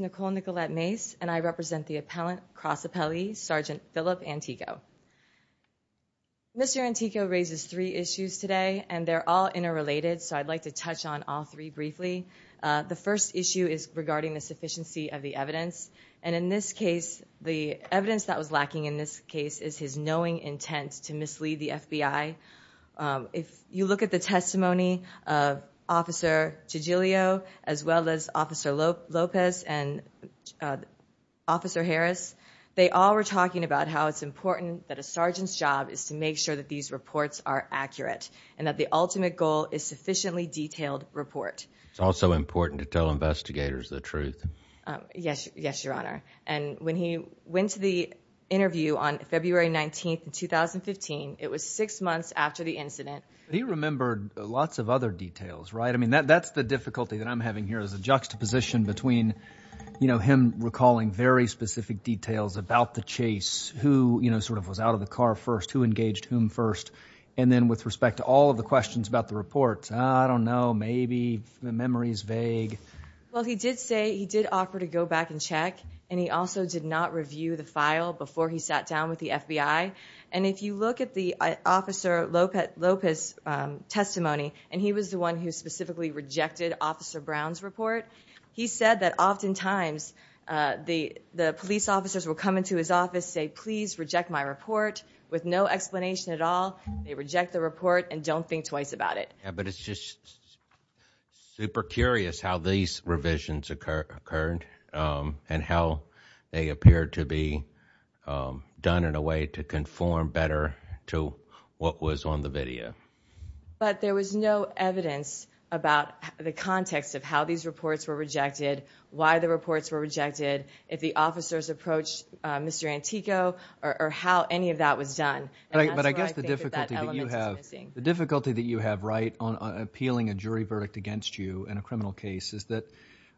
Nicole Nicolette Mace, Appellant Cross Appellee, Sgt. Philip Antico Mr. Antico raises three issues today and they're all interrelated so I'd like to touch on all three briefly. The first issue is regarding the sufficiency of the evidence and in this case, the evidence that was lacking in this case is his knowing intent to mislead the FBI. If you look at the testimony of Officer Gigilio as well as Officer Lopez and Officer Harris, they all were talking about how it's important that a sergeant's job is to make sure that these It's also important to tell investigators the truth. Yes, your honor. And when he went to the interview on February 19th, 2015, it was six months after the incident. He remembered lots of other details, right? I mean, that's the difficulty that I'm having here is a juxtaposition between, you know, him recalling very specific details about the chase, who, you know, sort of was out of the car first, who engaged whom first, and then with all of the questions about the report, I don't know, maybe the memory is vague. Well, he did say he did offer to go back and check and he also did not review the file before he sat down with the FBI. And if you look at the Officer Lopez testimony, and he was the one who specifically rejected Officer Brown's report, he said that oftentimes the police officers will come into his office, say, please reject my report with no explanation at all. They reject the report and don't think twice about it. Yeah, but it's just super curious how these revisions occur occurred and how they appear to be done in a way to conform better to what was on the video. But there was no evidence about the context of how these reports were rejected, why the reports were rejected, if the officers approached Mr. Antico or how any of that was done. But I guess the difficulty that you have, right, on appealing a jury verdict against you in a criminal case is that,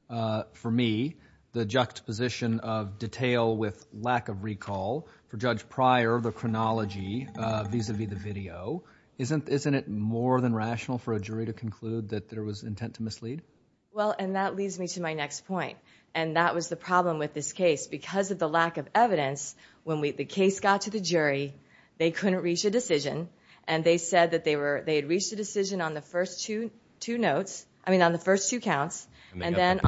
for me, the juxtaposition of detail with lack of recall for Judge Pryor, the chronology vis-à-vis the video, isn't it more than rational for a jury to conclude that it was intent to mislead? Well, and that leads me to my next point, and that was the problem with this case. Because of the lack of evidence, when the case got to the jury, they couldn't reach a decision, and they said that they had reached a decision on the first two notes, I mean on the first two counts, and then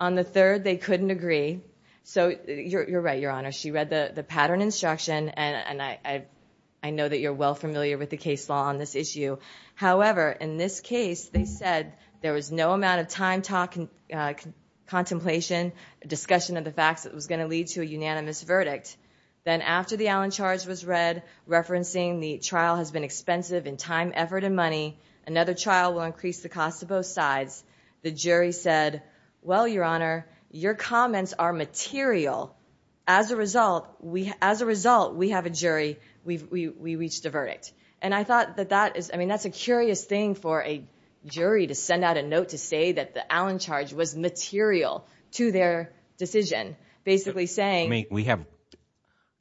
on the third they couldn't agree. So you're right, Your Honor, she read the pattern instruction, and I know that you're well familiar with the case law on this case. They said there was no amount of time talking, contemplation, discussion of the facts that was going to lead to a unanimous verdict. Then after the Allen charge was read, referencing the trial has been expensive in time, effort, and money, another trial will increase the cost of both sides, the jury said, well, Your Honor, your comments are material. As a result, we have a jury, we reached a verdict. And I thought that that is, I mean, that's a curious thing for a jury to send out a note to say that the Allen charge was material to their decision, basically saying... I mean, we have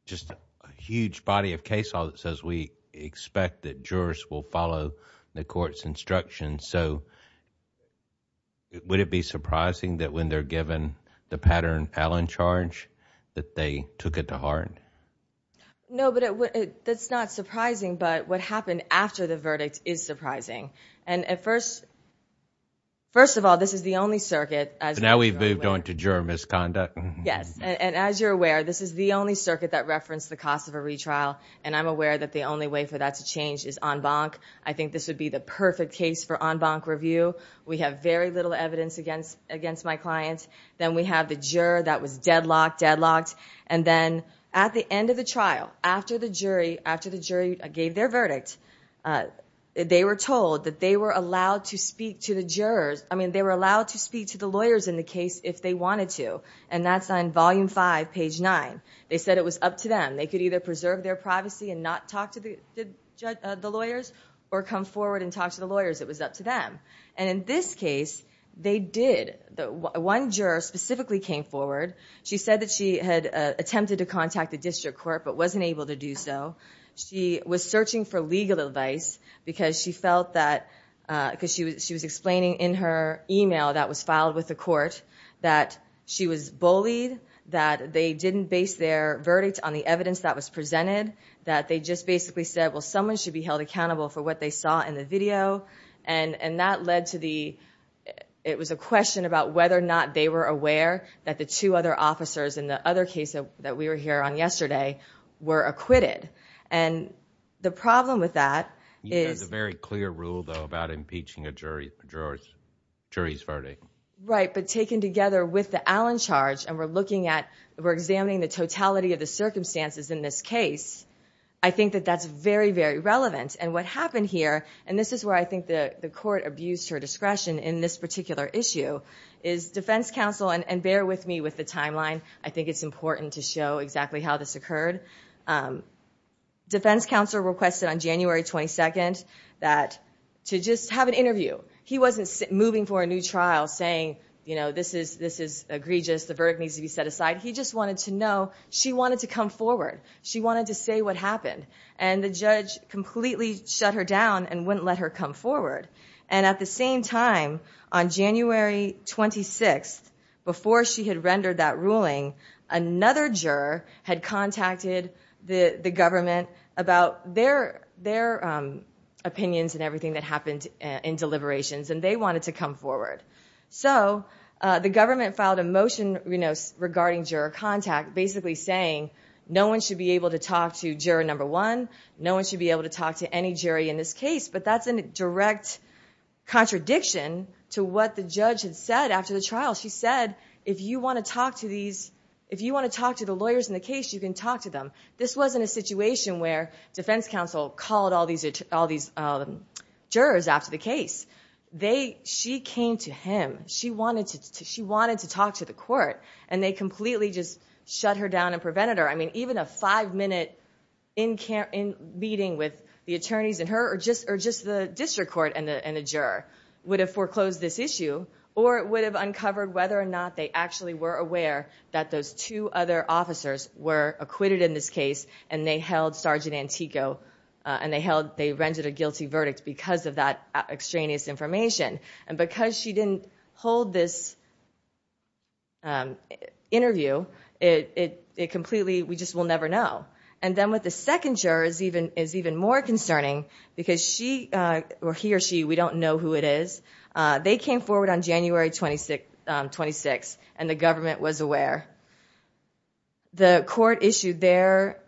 just a huge body of case law that says we expect that jurors will follow the court's instructions, so would it be surprising that when they're given the pattern Allen charge that they took it to heart? No, but that's not surprising, but what happened after the verdict is surprising. And at first, first of all, this is the only circuit... Now we've moved on to juror misconduct. Yes, and as you're aware, this is the only circuit that referenced the cost of a retrial, and I'm aware that the only way for that to change is en banc. I think this would be the perfect case for en banc review. We have very little evidence against my clients. Then we have the juror that was deadlocked, deadlocked. And then at the end of the trial, after the jury gave their verdict, they were told that they were allowed to speak to the jurors. I mean, they were allowed to speak to the lawyers in the case if they wanted to, and that's on volume five, page nine. They said it was up to them. They could either preserve their privacy and not talk to the lawyers or come forward and talk to the lawyers. It was up to them. And in this case, they did. One juror specifically came forward. She said that she had attempted to contact the district court, but wasn't able to do so. She was searching for legal advice because she felt that... Because she was explaining in her email that was filed with the court that she was bullied, that they didn't base their verdict on the evidence that was presented, that they just basically said, well, someone should be held accountable for what they saw in the video. And that led to the... It was a question about whether or not they were aware that the two other officers in the other case that we were here on yesterday were acquitted. And the problem with that is... You had a very clear rule, though, about impeaching a jury's verdict. Right. But taken together with the Allen charge, and we're looking at... We're examining the totality of the circumstances in this case. I think that that's very, very relevant. And what happened here, and this is where I think the court abused her discretion in this particular issue, is defense counsel... And bear with me with the timeline. I think it's important to show exactly how this occurred. Defense counsel requested on January 22nd that... To just have an interview. He wasn't moving for a new trial saying, you know, this is egregious, the verdict needs to be set aside. He just wanted to know... She wanted to come forward. She wanted to say what happened. And the judge completely shut her down and wouldn't let her come forward. And at the same time, on January 26th, before she had rendered that ruling, another juror had contacted the government about their opinions and everything that happened in deliberations, and they wanted to come forward. So the government filed a motion regarding juror contact, basically saying, no one should be able to talk to juror number one, no one should be able to talk to any jury in this case. But that's a direct contradiction to what the judge had said after the trial. She said, if you want to talk to these... If you want to talk to the lawyers in the case, you can talk to them. This wasn't a situation where defense counsel called all these jurors after the case. They... She came to him. She wanted to talk to the jurors. She completely just shut her down and prevented her. I mean, even a five-minute meeting with the attorneys and her, or just the district court and the juror, would have foreclosed this issue, or it would have uncovered whether or not they actually were aware that those two other officers were acquitted in this case, and they held Sergeant Antico, and they held... They rendered a guilty verdict because of that extraneous information. And because she didn't hold this interview, it completely... We just will never know. And then with the second juror is even more concerning because she, or he or she, we don't know who it is. They came forward on January 26th, and the government was aware. The court issued their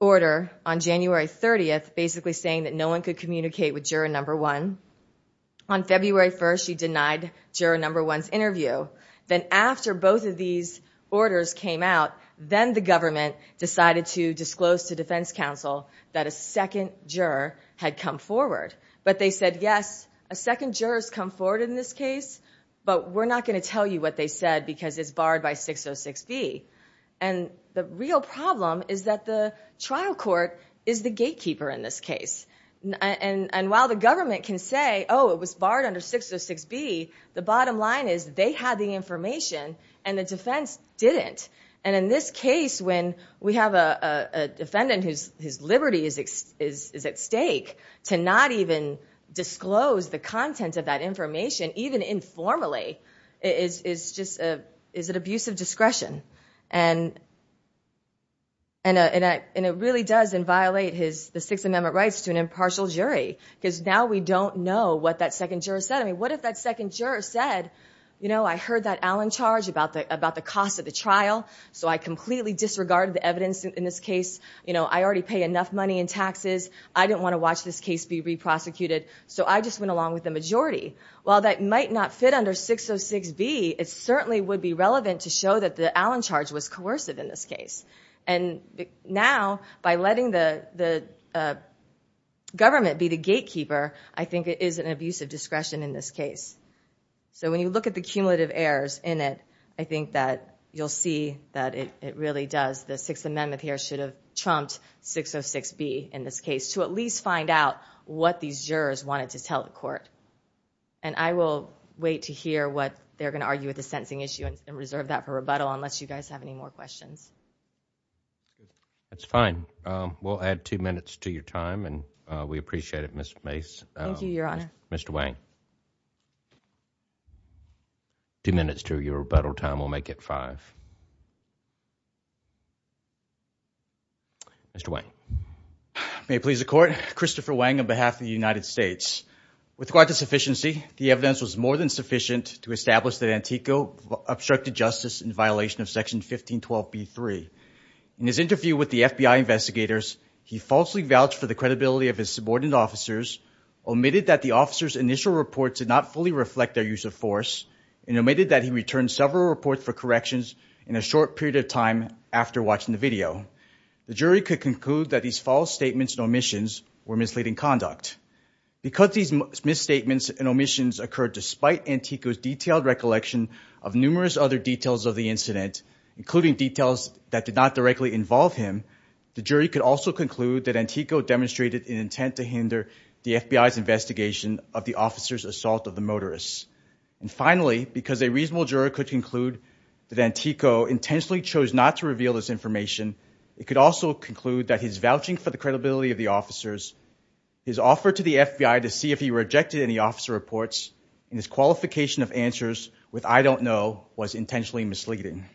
order on January 30th, saying that no one could communicate with juror number one. On February 1st, she denied juror number one's interview. Then after both of these orders came out, then the government decided to disclose to defense counsel that a second juror had come forward. But they said, yes, a second juror has come forward in this case, but we're not going to tell you what they said because it's barred by 606B. And the real problem is that the trial court is the gatekeeper in this case. And while the government can say, oh, it was barred under 606B, the bottom line is they had the information and the defense didn't. And in this case, when we have a defendant whose liberty is at stake to not even disclose the content of that information, even informally, is just... And it really does inviolate the Sixth Amendment rights to an impartial jury. Because now we don't know what that second juror said. I mean, what if that second juror said, I heard that Allen charge about the cost of the trial, so I completely disregarded the evidence in this case. I already pay enough money in taxes. I didn't want to watch this case be re-prosecuted, so I just went along with the majority. While that might not fit under 606B, it certainly would be relevant to show that the Allen charge was coercive in this case. And now, by letting the government be the gatekeeper, I think it is an abusive discretion in this case. So when you look at the cumulative errors in it, I think that you'll see that it really does... The Sixth Amendment here should have trumped 606B in this case to at least find out what these jurors wanted to tell the court. And I will wait to hear what they're going to argue with the sentencing issue and reserve that for rebuttal, unless you guys have any more questions. That's fine. We'll add two minutes to your time, and we appreciate it, Ms. Mace. Thank you, Your Honor. Mr. Wang. Two minutes to your rebuttal time. We'll make it five. Mr. Wang. May it please the Court, Christopher Wang on behalf of the United States. With regard to sufficiency, the evidence was more than sufficient to establish that Antico obstructed justice in violation of Section 1512B3. In his interview with the FBI investigators, he falsely vouched for the credibility of his subordinate officers, omitted that the officers' initial reports did not fully reflect their use of force, and omitted that he returned several reports for corrections in a short period of time after watching the video. The jury could conclude that these false statements and omissions were misleading conduct. Because these misstatements and omissions occurred despite Antico's detailed recollection of numerous other details of the incident, including details that did not directly involve him, the jury could also conclude that Antico demonstrated an intent to hinder the FBI's investigation of the officers' assault of the that Antico intentionally chose not to reveal this information. It could also conclude that his vouching for the credibility of the officers, his offer to the FBI to see if he rejected any officer reports, and his qualification of answers with I don't know was intentionally misleading.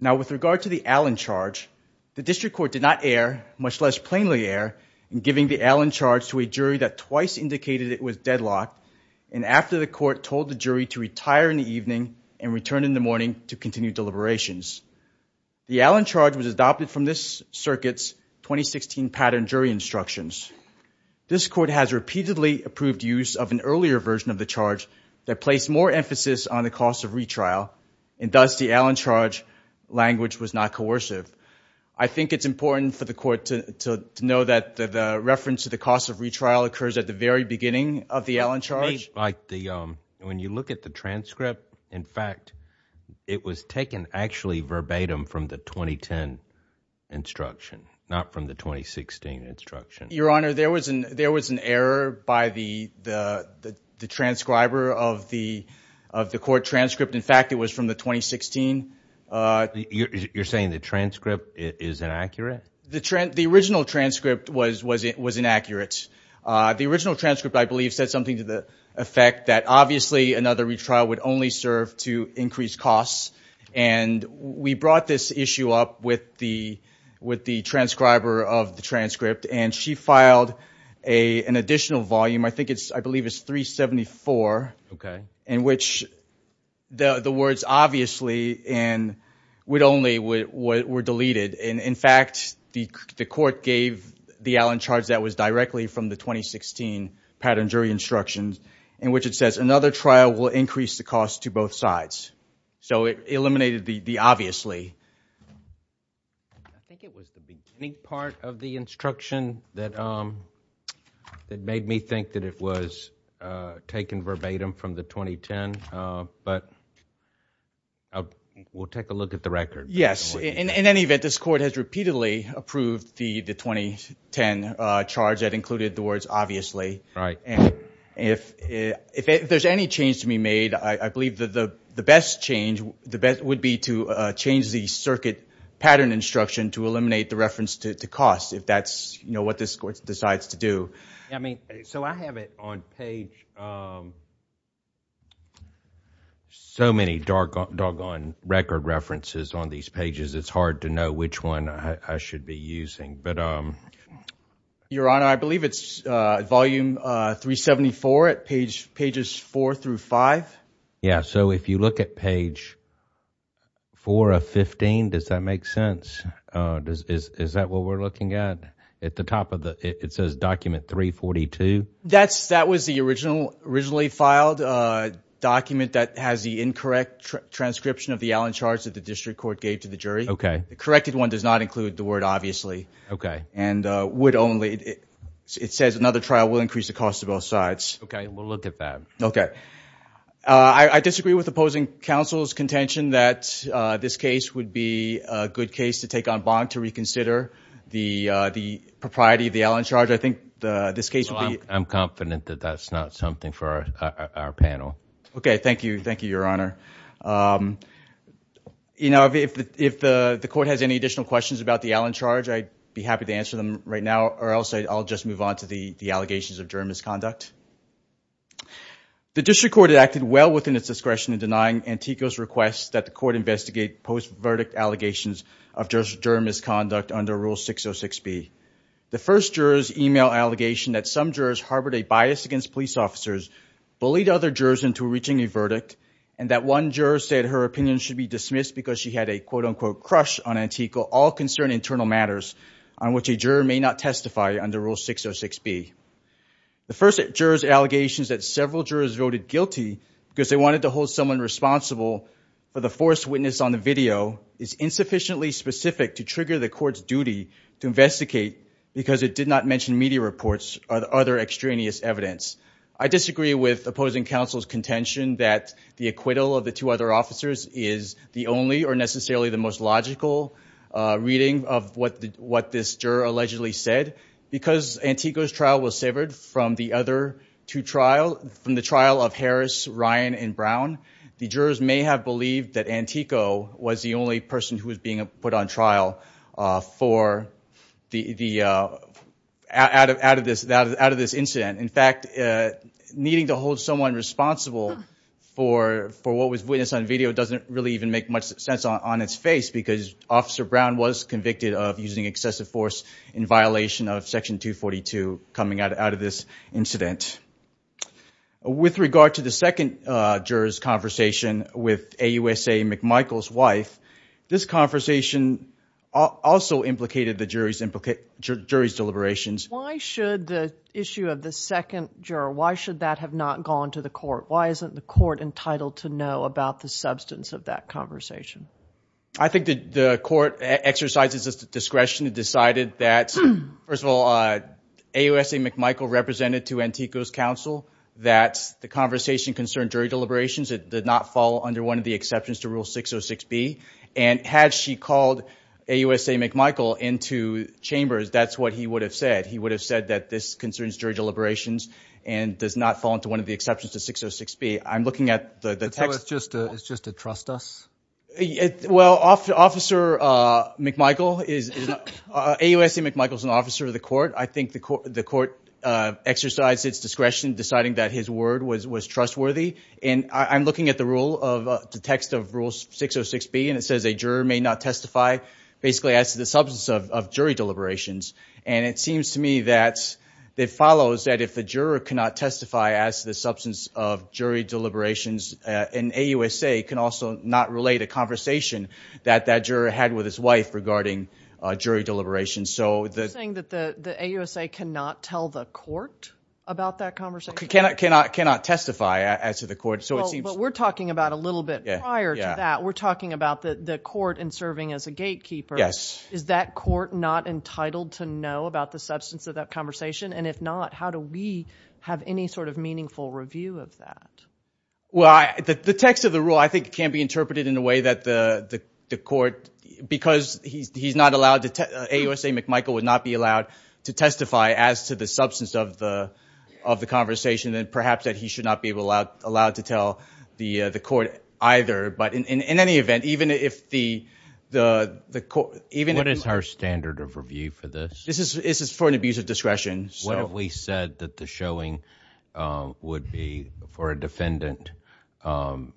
Now with regard to the Allen charge, the District Court did not err, much less plainly err, in giving the Allen charge to a jury that twice indicated it was deadlocked, and after the court told the jury to retire in the evening and return in the morning to continue deliberations. The Allen charge was adopted from this circuit's 2016 pattern jury instructions. This court has repeatedly approved use of an earlier version of the charge that placed more emphasis on the cost of retrial, and thus the Allen charge language was not coercive. I think it's important for the court to know that the reference to the cost of retrial occurs at the very beginning of the Allen charge. When you look at the transcript, in fact, it was taken actually verbatim from the 2010 instruction, not from the 2016 instruction. Your Honor, there was an error by the transcriber of the court transcript. In fact, it was from the 2016. You're saying the transcript is inaccurate? The original transcript was inaccurate. The original transcript, I believe, said something to the effect that obviously another retrial would only serve to increase costs, and we brought this issue up with the transcriber of the transcript, and she filed an additional volume. I think it's, I believe it's 374, in which the words obviously and would only were deleted. In fact, the court gave the Allen charge that was directly from the 2016 instruction, in which it says another trial will increase the cost to both sides. So it eliminated the obviously. I think it was the beginning part of the instruction that made me think that it was taken verbatim from the 2010, but we'll take a look at the record. Yes. In any event, this court has repeatedly approved the 2010 charge that included the obviously, and if there's any change to be made, I believe that the best change would be to change the circuit pattern instruction to eliminate the reference to cost, if that's what this court decides to do. I mean, so I have it on page, so many doggone record references on these pages, it's hard to know which one I should be using. Your Honor, I believe it's volume 374 at pages 4 through 5. Yeah, so if you look at page 4 of 15, does that make sense? Is that what we're looking at? At the top of the, it says document 342? That was the originally filed document that has the incorrect transcription of the Allen charge that the district court gave to the jury. Okay. The corrected one does not include the word obviously. Okay. And would only, it says another trial will increase the cost of both sides. Okay, we'll look at that. Okay. I disagree with opposing counsel's contention that this case would be a good case to take on bond to reconsider the propriety of the Allen charge. I think this case would be... I'm confident that that's not something for our panel. Okay. Thank you. Thank you, Your Honor. You know, if the court has any additional questions about the Allen charge, I'd be happy to answer them right now or else I'll just move on to the allegations of jury misconduct. The district court had acted well within its discretion in denying Antico's request that the court investigate post-verdict allegations of jury misconduct under Rule 606B. The first jurors email allegation that some jurors harbored a bias against police officers, bullied other jurors into reaching a verdict, and that one juror said her opinion should be dismissed because she had a quote-unquote crush on Antico, all concern internal matters on which a juror may not testify under Rule 606B. The first juror's allegations that several jurors voted guilty because they wanted to hold someone responsible for the forced witness on the video is insufficiently specific to trigger the court's duty to investigate because it did not mention media reports or other extraneous evidence. I disagree with opposing counsel's contention that the acquittal of the two other officers is the only or necessarily the most logical reading of what this juror allegedly said. Because Antico's trial was severed from the other two trials, from the trial of Harris, Ryan, and Brown, the jurors may have believed that Antico was the only person who was being put on trial out of this incident. In fact, needing to hold someone responsible for what was witnessed on video doesn't really even make much sense on its face because Officer Brown was convicted of using excessive force in violation of Section 242 coming out of this incident. With regard to the second juror's with AUSA McMichael's wife, this conversation also implicated the jury's deliberations. Why should the issue of the second juror, why should that have not gone to the court? Why isn't the court entitled to know about the substance of that conversation? I think the court exercised its discretion and decided that, first of all, AUSA McMichael represented to Antico's counsel that the conversation concerned jury deliberations. It did not fall under one of the exceptions to Rule 606B. And had she called AUSA McMichael into chambers, that's what he would have said. He would have said that this concerns jury deliberations and does not fall into one of the exceptions to 606B. I'm looking at the text. So it's just a trust us? Well, AUSA McMichael is an officer of the court. I think the court exercised its discretion, deciding that his word was trustworthy. And I'm looking at the text of Rule 606B, and it says a juror may not testify basically as to the substance of jury deliberations. And it seems to me that it follows that if the juror cannot testify as to the substance of jury deliberations, an AUSA can also not relate a conversation that that juror had with his wife regarding jury deliberations. You're saying that the AUSA cannot tell the court about that conversation? Cannot testify as to the court. Well, but we're talking about a little bit prior to that. We're talking about the court and serving as a gatekeeper. Is that court not entitled to know about the substance of that conversation? And if not, how do we have any sort of meaningful review of that? Well, the text of the rule, I think, can be interpreted in a way that the court, because he's not allowed to, AUSA McMichael would not be allowed to testify as to the substance of the conversation. And perhaps that he should not be allowed to tell the court either. But in any event, even if the court, even... What is our standard of review for this? This is for an abuse of discretion. What if we said that the showing would be for a defendant to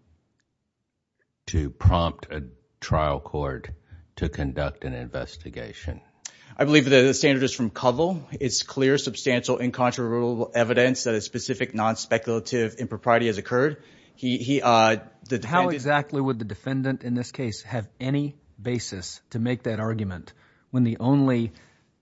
prompt a trial court to conduct an investigation? I believe that the standard is from Covell. It's clear, substantial, incontrovertible evidence that a specific non-speculative impropriety has occurred. He, the defendant... How exactly would the defendant in this case have any basis to make that argument when the only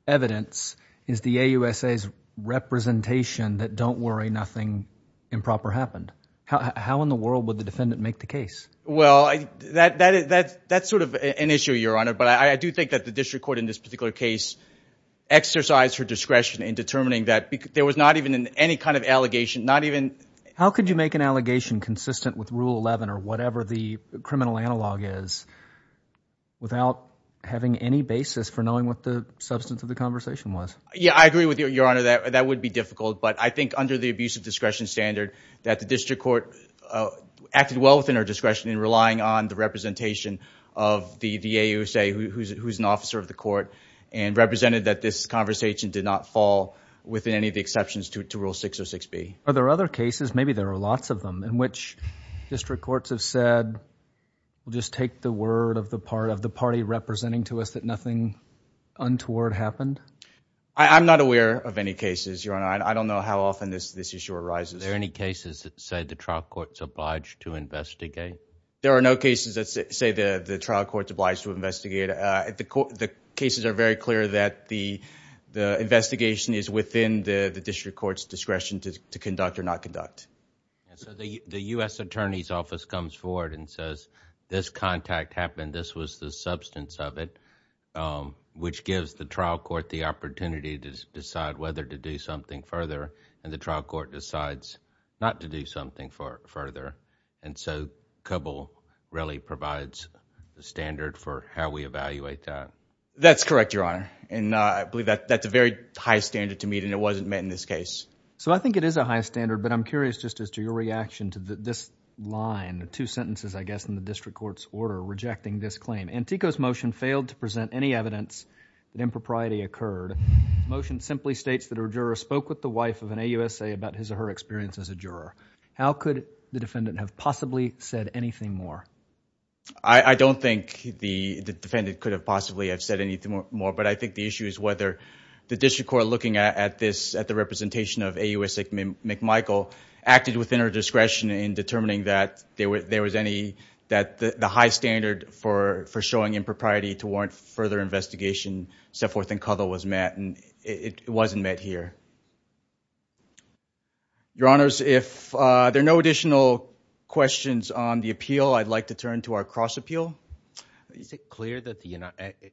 evidence is the AUSA's representation that don't worry, nothing improper happened? How in the world would the defendant make the case? Well, that's sort of an issue, Your Honor. But I do think that the district court in this particular case exercised her discretion in determining that. There was not even any kind of allegation, not even... How could you make an allegation consistent with Rule 11 or whatever the criminal analog is without having any basis for knowing what the substance of the conversation was? Yeah, I agree with you, Your Honor. That would be difficult. But I think under the abuse of discretion standard that the district court acted well within her discretion in relying on the representation of the AUSA who's an officer of the court and represented that this conversation did not fall within any of the exceptions to Rule 606B. Are there other cases, maybe there are lots of them, in which district courts have said, we'll just take the word of the party representing to us that nothing untoward happened? I'm not aware of any cases, Your Honor. I don't know how often this issue arises. Are there any cases that say the trial courts obliged to investigate? There are no cases that say the trial courts obliged to investigate. The cases are very clear that the investigation is within the district court's discretion to conduct or not conduct. So the U.S. Attorney's Office comes forward and says, this contact happened. This was the substance of it, which gives the trial court the opportunity to decide whether to do something further, and the trial court decides not to do something further. And so, COBOL really provides the standard for how we evaluate that. That's correct, Your Honor. And I believe that's a very high standard to meet, and it wasn't met in this case. So I think it is a high standard, but I'm curious just as to your reaction to this line, the two sentences, I guess, in the district court's order rejecting this claim. Antico's motion failed to present any evidence that impropriety occurred. The motion simply states that a juror spoke with the wife of an AUSA about his or her experience as a juror. How could the defendant have possibly said anything more? I don't think the defendant could have possibly have said anything more, but I think the issue is whether the district court looking at this, at the representation of AUSA McMichael, acted within her discretion in determining that there was any, that the high standard for showing impropriety to warrant further investigation, set forth in COBOL, was met. And it wasn't met here. Your Honors, if there are no additional questions on the appeal, I'd like to turn to our cross appeal. Is it clear that,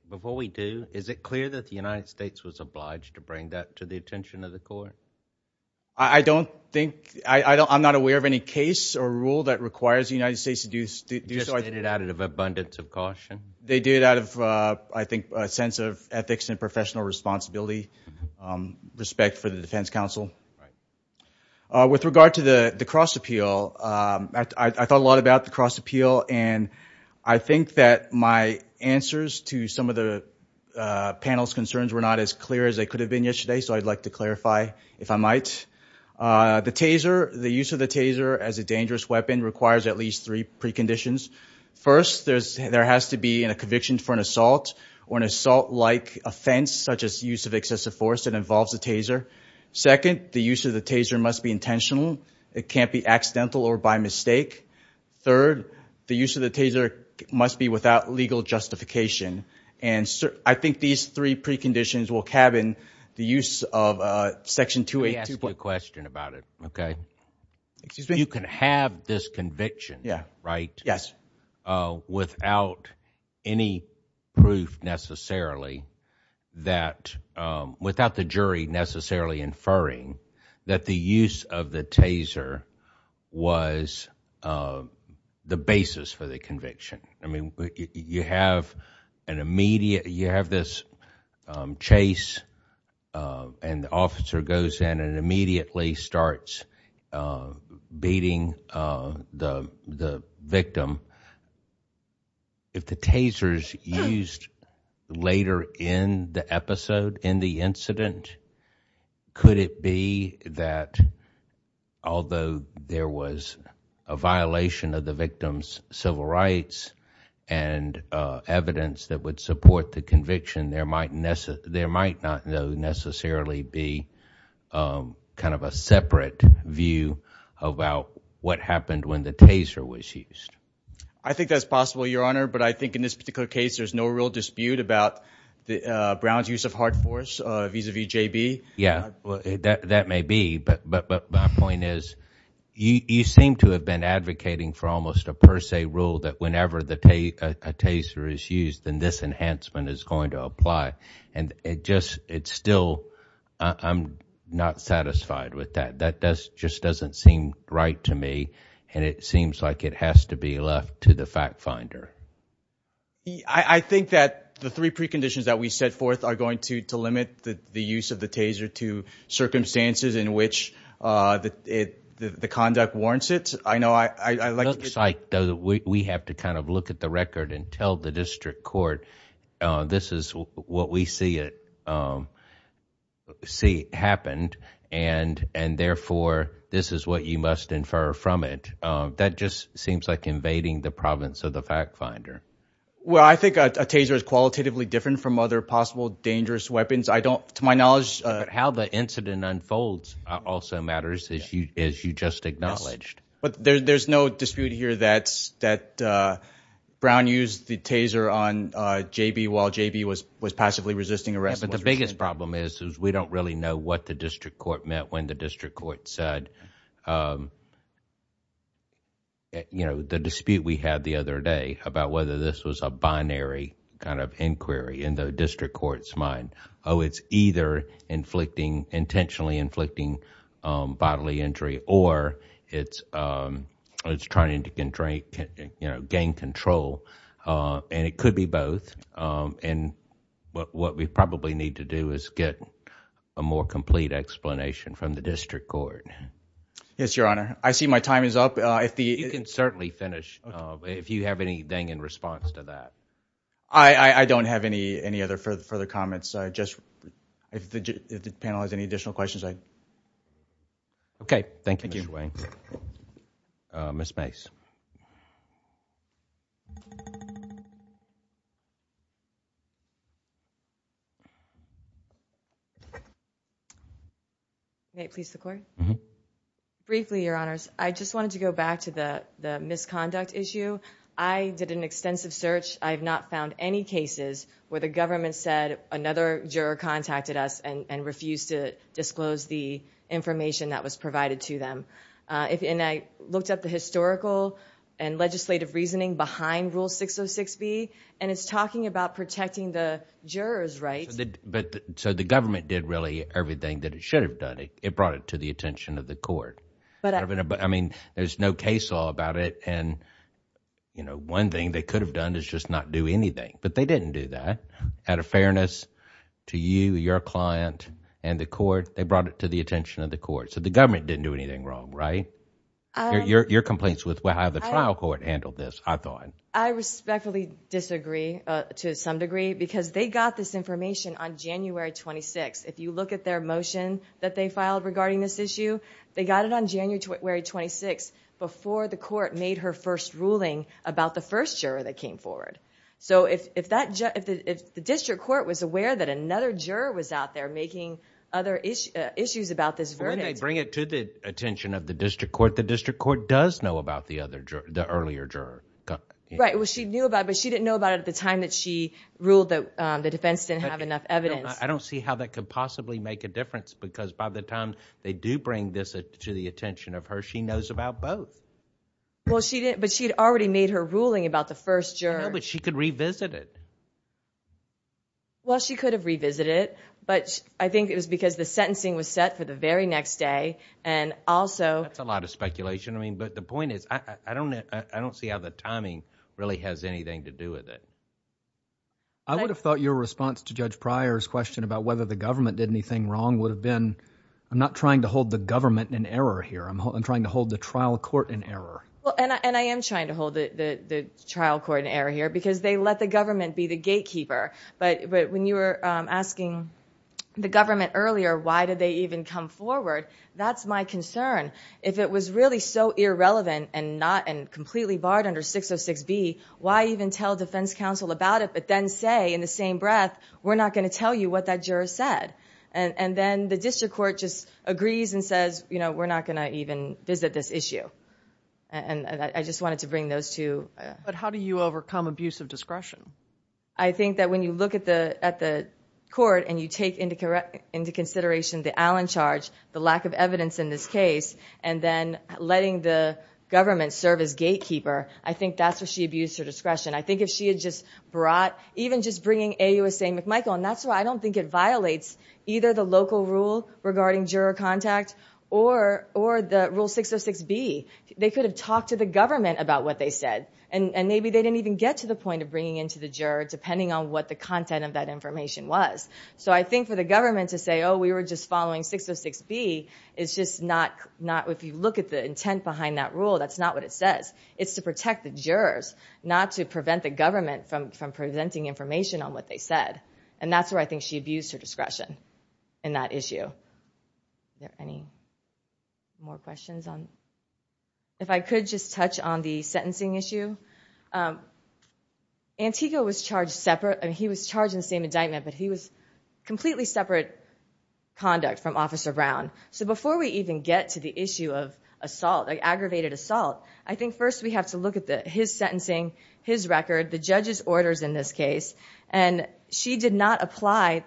before we do, is it clear that the United States was obliged to bring that to the attention of the court? I don't think, I'm not aware of any case or rule that requires the United States to do so. Just did it out of abundance of caution? They did out of, I think, a sense of ethics and professional responsibility, respect for the defense counsel. With regard to the cross appeal, I thought a lot about the cross appeal, and I think that my answers to some of the panel's concerns were not as clear as they could have been yesterday, so I'd like to clarify, if I might. The taser, the use of the taser as a dangerous weapon requires at least three preconditions. First, there has to be a conviction for an assault, or an assault-like offense, such as use of excessive force that involves a taser. Second, the use of the taser must be intentional. It can't be accidental or by mistake. Third, the use of the taser must be without legal justification, and I think these three preconditions will cabin the use of Section 282. Let me ask you a question about it, okay? Excuse me? You can have this conviction, right? Yes. Without any proof necessarily that, without the jury necessarily inferring that the use of the taser was the basis for the conviction. You have this chase, and the officer goes in and immediately starts beating the victim. If the taser is used later in the episode, in the incident, could it be that, although there was a violation of the victim's civil rights and evidence that would support the conviction, there might not necessarily be kind of a separate view about what happened when the taser was used? I think that's possible, Your Honor, but I think in this particular case, there's no real dispute about Brown's use of hard force vis-a-vis JB. Yeah, that may be, but my point is, you seem to have been advocating for almost a per se rule that whenever a taser is used, then this enhancement is going to apply, and it just, it's still, I'm not satisfied with that. That just doesn't seem right to me, and it seems like it has to be left to the fact finder. He, I think that the three preconditions that we set forth are going to limit the use of the taser to circumstances in which the conduct warrants it. I know, I like- It looks like we have to kind of look at the record and tell the district court, this is what we see it, see happened, and therefore, this is what you must infer from it. That just seems like invading the province of the fact finder. Well, I think a taser is qualitatively different from other possible dangerous weapons. I don't, to my knowledge- How the incident unfolds also matters, as you just acknowledged. But there's no dispute here that Brown used the taser on JB while JB was passively resisting arrest. But the biggest problem is, is we don't really know what the district court meant when the you know, the dispute we had the other day about whether this was a binary kind of inquiry in the district court's mind. Oh, it's either inflicting, intentionally inflicting bodily injury or it's trying to gain control, and it could be both. And what we probably need to do is get a more complete explanation from the district court. Yes, your honor. I see my time is up. You can certainly finish if you have anything in response to that. I don't have any other further comments. If the panel has any additional questions. Okay. Thank you, Mr. Wayne. Ms. Mace. May I please record? Briefly, your honors. I just wanted to go back to the misconduct issue. I did an extensive search. I've not found any cases where the government said another juror contacted us and refused to disclose the information that was provided to them. And I looked up the historical and legislative reasoning behind Rule 606B, and it's talking about protecting the jurors' rights. So the government did really everything that it should have done. It brought it to the attention of the court. I mean, there's no case law about it. And, you know, one thing they could have done is just not do anything. But they didn't do that. Out of fairness to you, your client, and the court, they brought it to the attention of the court. So the government didn't do anything wrong, right? Your complaints with how the trial court handled this, I thought. I respectfully disagree to some degree because they got this information on January 26th. If you look at their motion that they filed regarding this issue, they got it on January 26th before the court made her first ruling about the first juror that came forward. So if the district court was aware that another juror was out there making other issues about this verdict... When they bring it to the attention of the district court, the district court does know about the earlier juror. Right, well, she knew about it, but she didn't know about it at the time that she ruled that the defense didn't have enough evidence. I don't see how that could possibly make a difference because by the time they do bring this to the attention of her, she knows about both. But she'd already made her ruling about the first juror. But she could revisit it. Well, she could have revisited it, but I think it was because the sentencing was set for the very next day, and also... That's a lot of speculation. I mean, but the point is, I don't see how the timing really has anything to do with it. I would have thought your response to Judge Pryor's question about whether the government did anything wrong would have been... I'm not trying to hold the government in error here. I'm trying to hold the trial court in error. Well, and I am trying to hold the trial court in error here because they let the government be the gatekeeper. But when you were asking the government earlier, why did they even come forward? That's my concern. If it was really so irrelevant and completely barred under 606B, why even tell defense counsel about it, but then say in the same breath, we're not going to tell you what that juror said? And then the district court just agrees and says, we're not going to even visit this issue. And I just wanted to bring those two... But how do you overcome abusive discretion? I think that when you look at the court and you take into consideration the Allen charge, the lack of evidence in this case, and then letting the government serve as gatekeeper, I think that's where she abused her discretion. I think if she had just brought... Even just bringing AUSA McMichael, and that's why I don't think it violates either the local rule regarding juror contact or the rule 606B. They could have talked to the government about what they said. And maybe they didn't even get to the point of bringing into the juror, depending on what the content of that information was. So I think for the government to say, oh, we were just following 606B, it's just not... If you look at the intent behind that rule, that's not what it says. It's to protect the jurors, not to prevent the government from presenting information on what they said. And that's where I think she abused her discretion in that issue. Are there any more questions? If I could just touch on the sentencing issue. Antigua was charged separate... He was charged in the same indictment, but he was completely separate conduct from Officer Brown. So before we even get to the issue of assault, aggravated assault, I think first we have to look at his sentencing, his record, the judge's orders in this case. And she did not apply...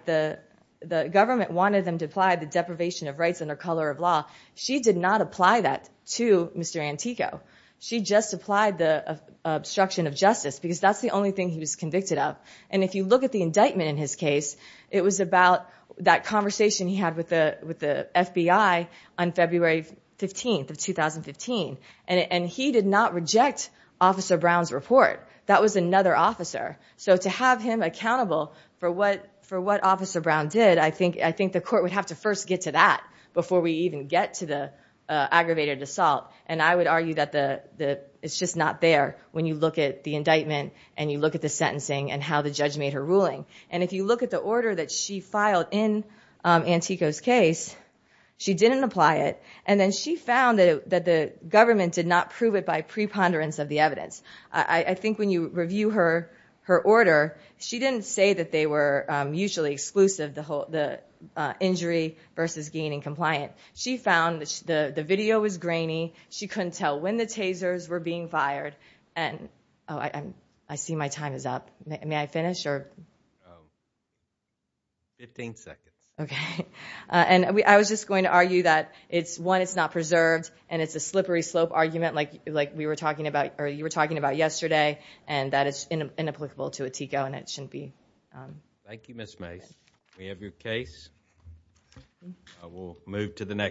The government wanted them to apply the deprivation of rights under color of law. She did not apply that to Mr. Antigua. She just applied the obstruction of justice, because that's the only thing he was convicted of. And if you look at the indictment in his case, it was about that conversation he had with the FBI on February 15th of 2015. And he did not reject Officer Brown's report. That was another officer. So to have him accountable for what Officer Brown did, I think the court would have to first get to that before we even get to the aggravated assault. And I would argue that it's just not there when you look at the indictment and you look at the sentencing and how the judge made her ruling. And if you look at the order that she filed in Antigua's case, she didn't apply it. And then she found that the government did not prove it by preponderance of the evidence. I think when you review her order, she didn't say that they were usually exclusive, the injury versus gain and compliant. She found the video was grainy. She couldn't tell when the tasers were being fired. And I see my time is up. May I finish? 15 seconds. Okay. And I was just going to argue that it's one, it's not preserved. And it's a slippery slope argument like we were talking about or you were talking about yesterday. And that is inapplicable to Antigua and it shouldn't be. Thank you, Ms. Mace. We have your case. I will move to the next.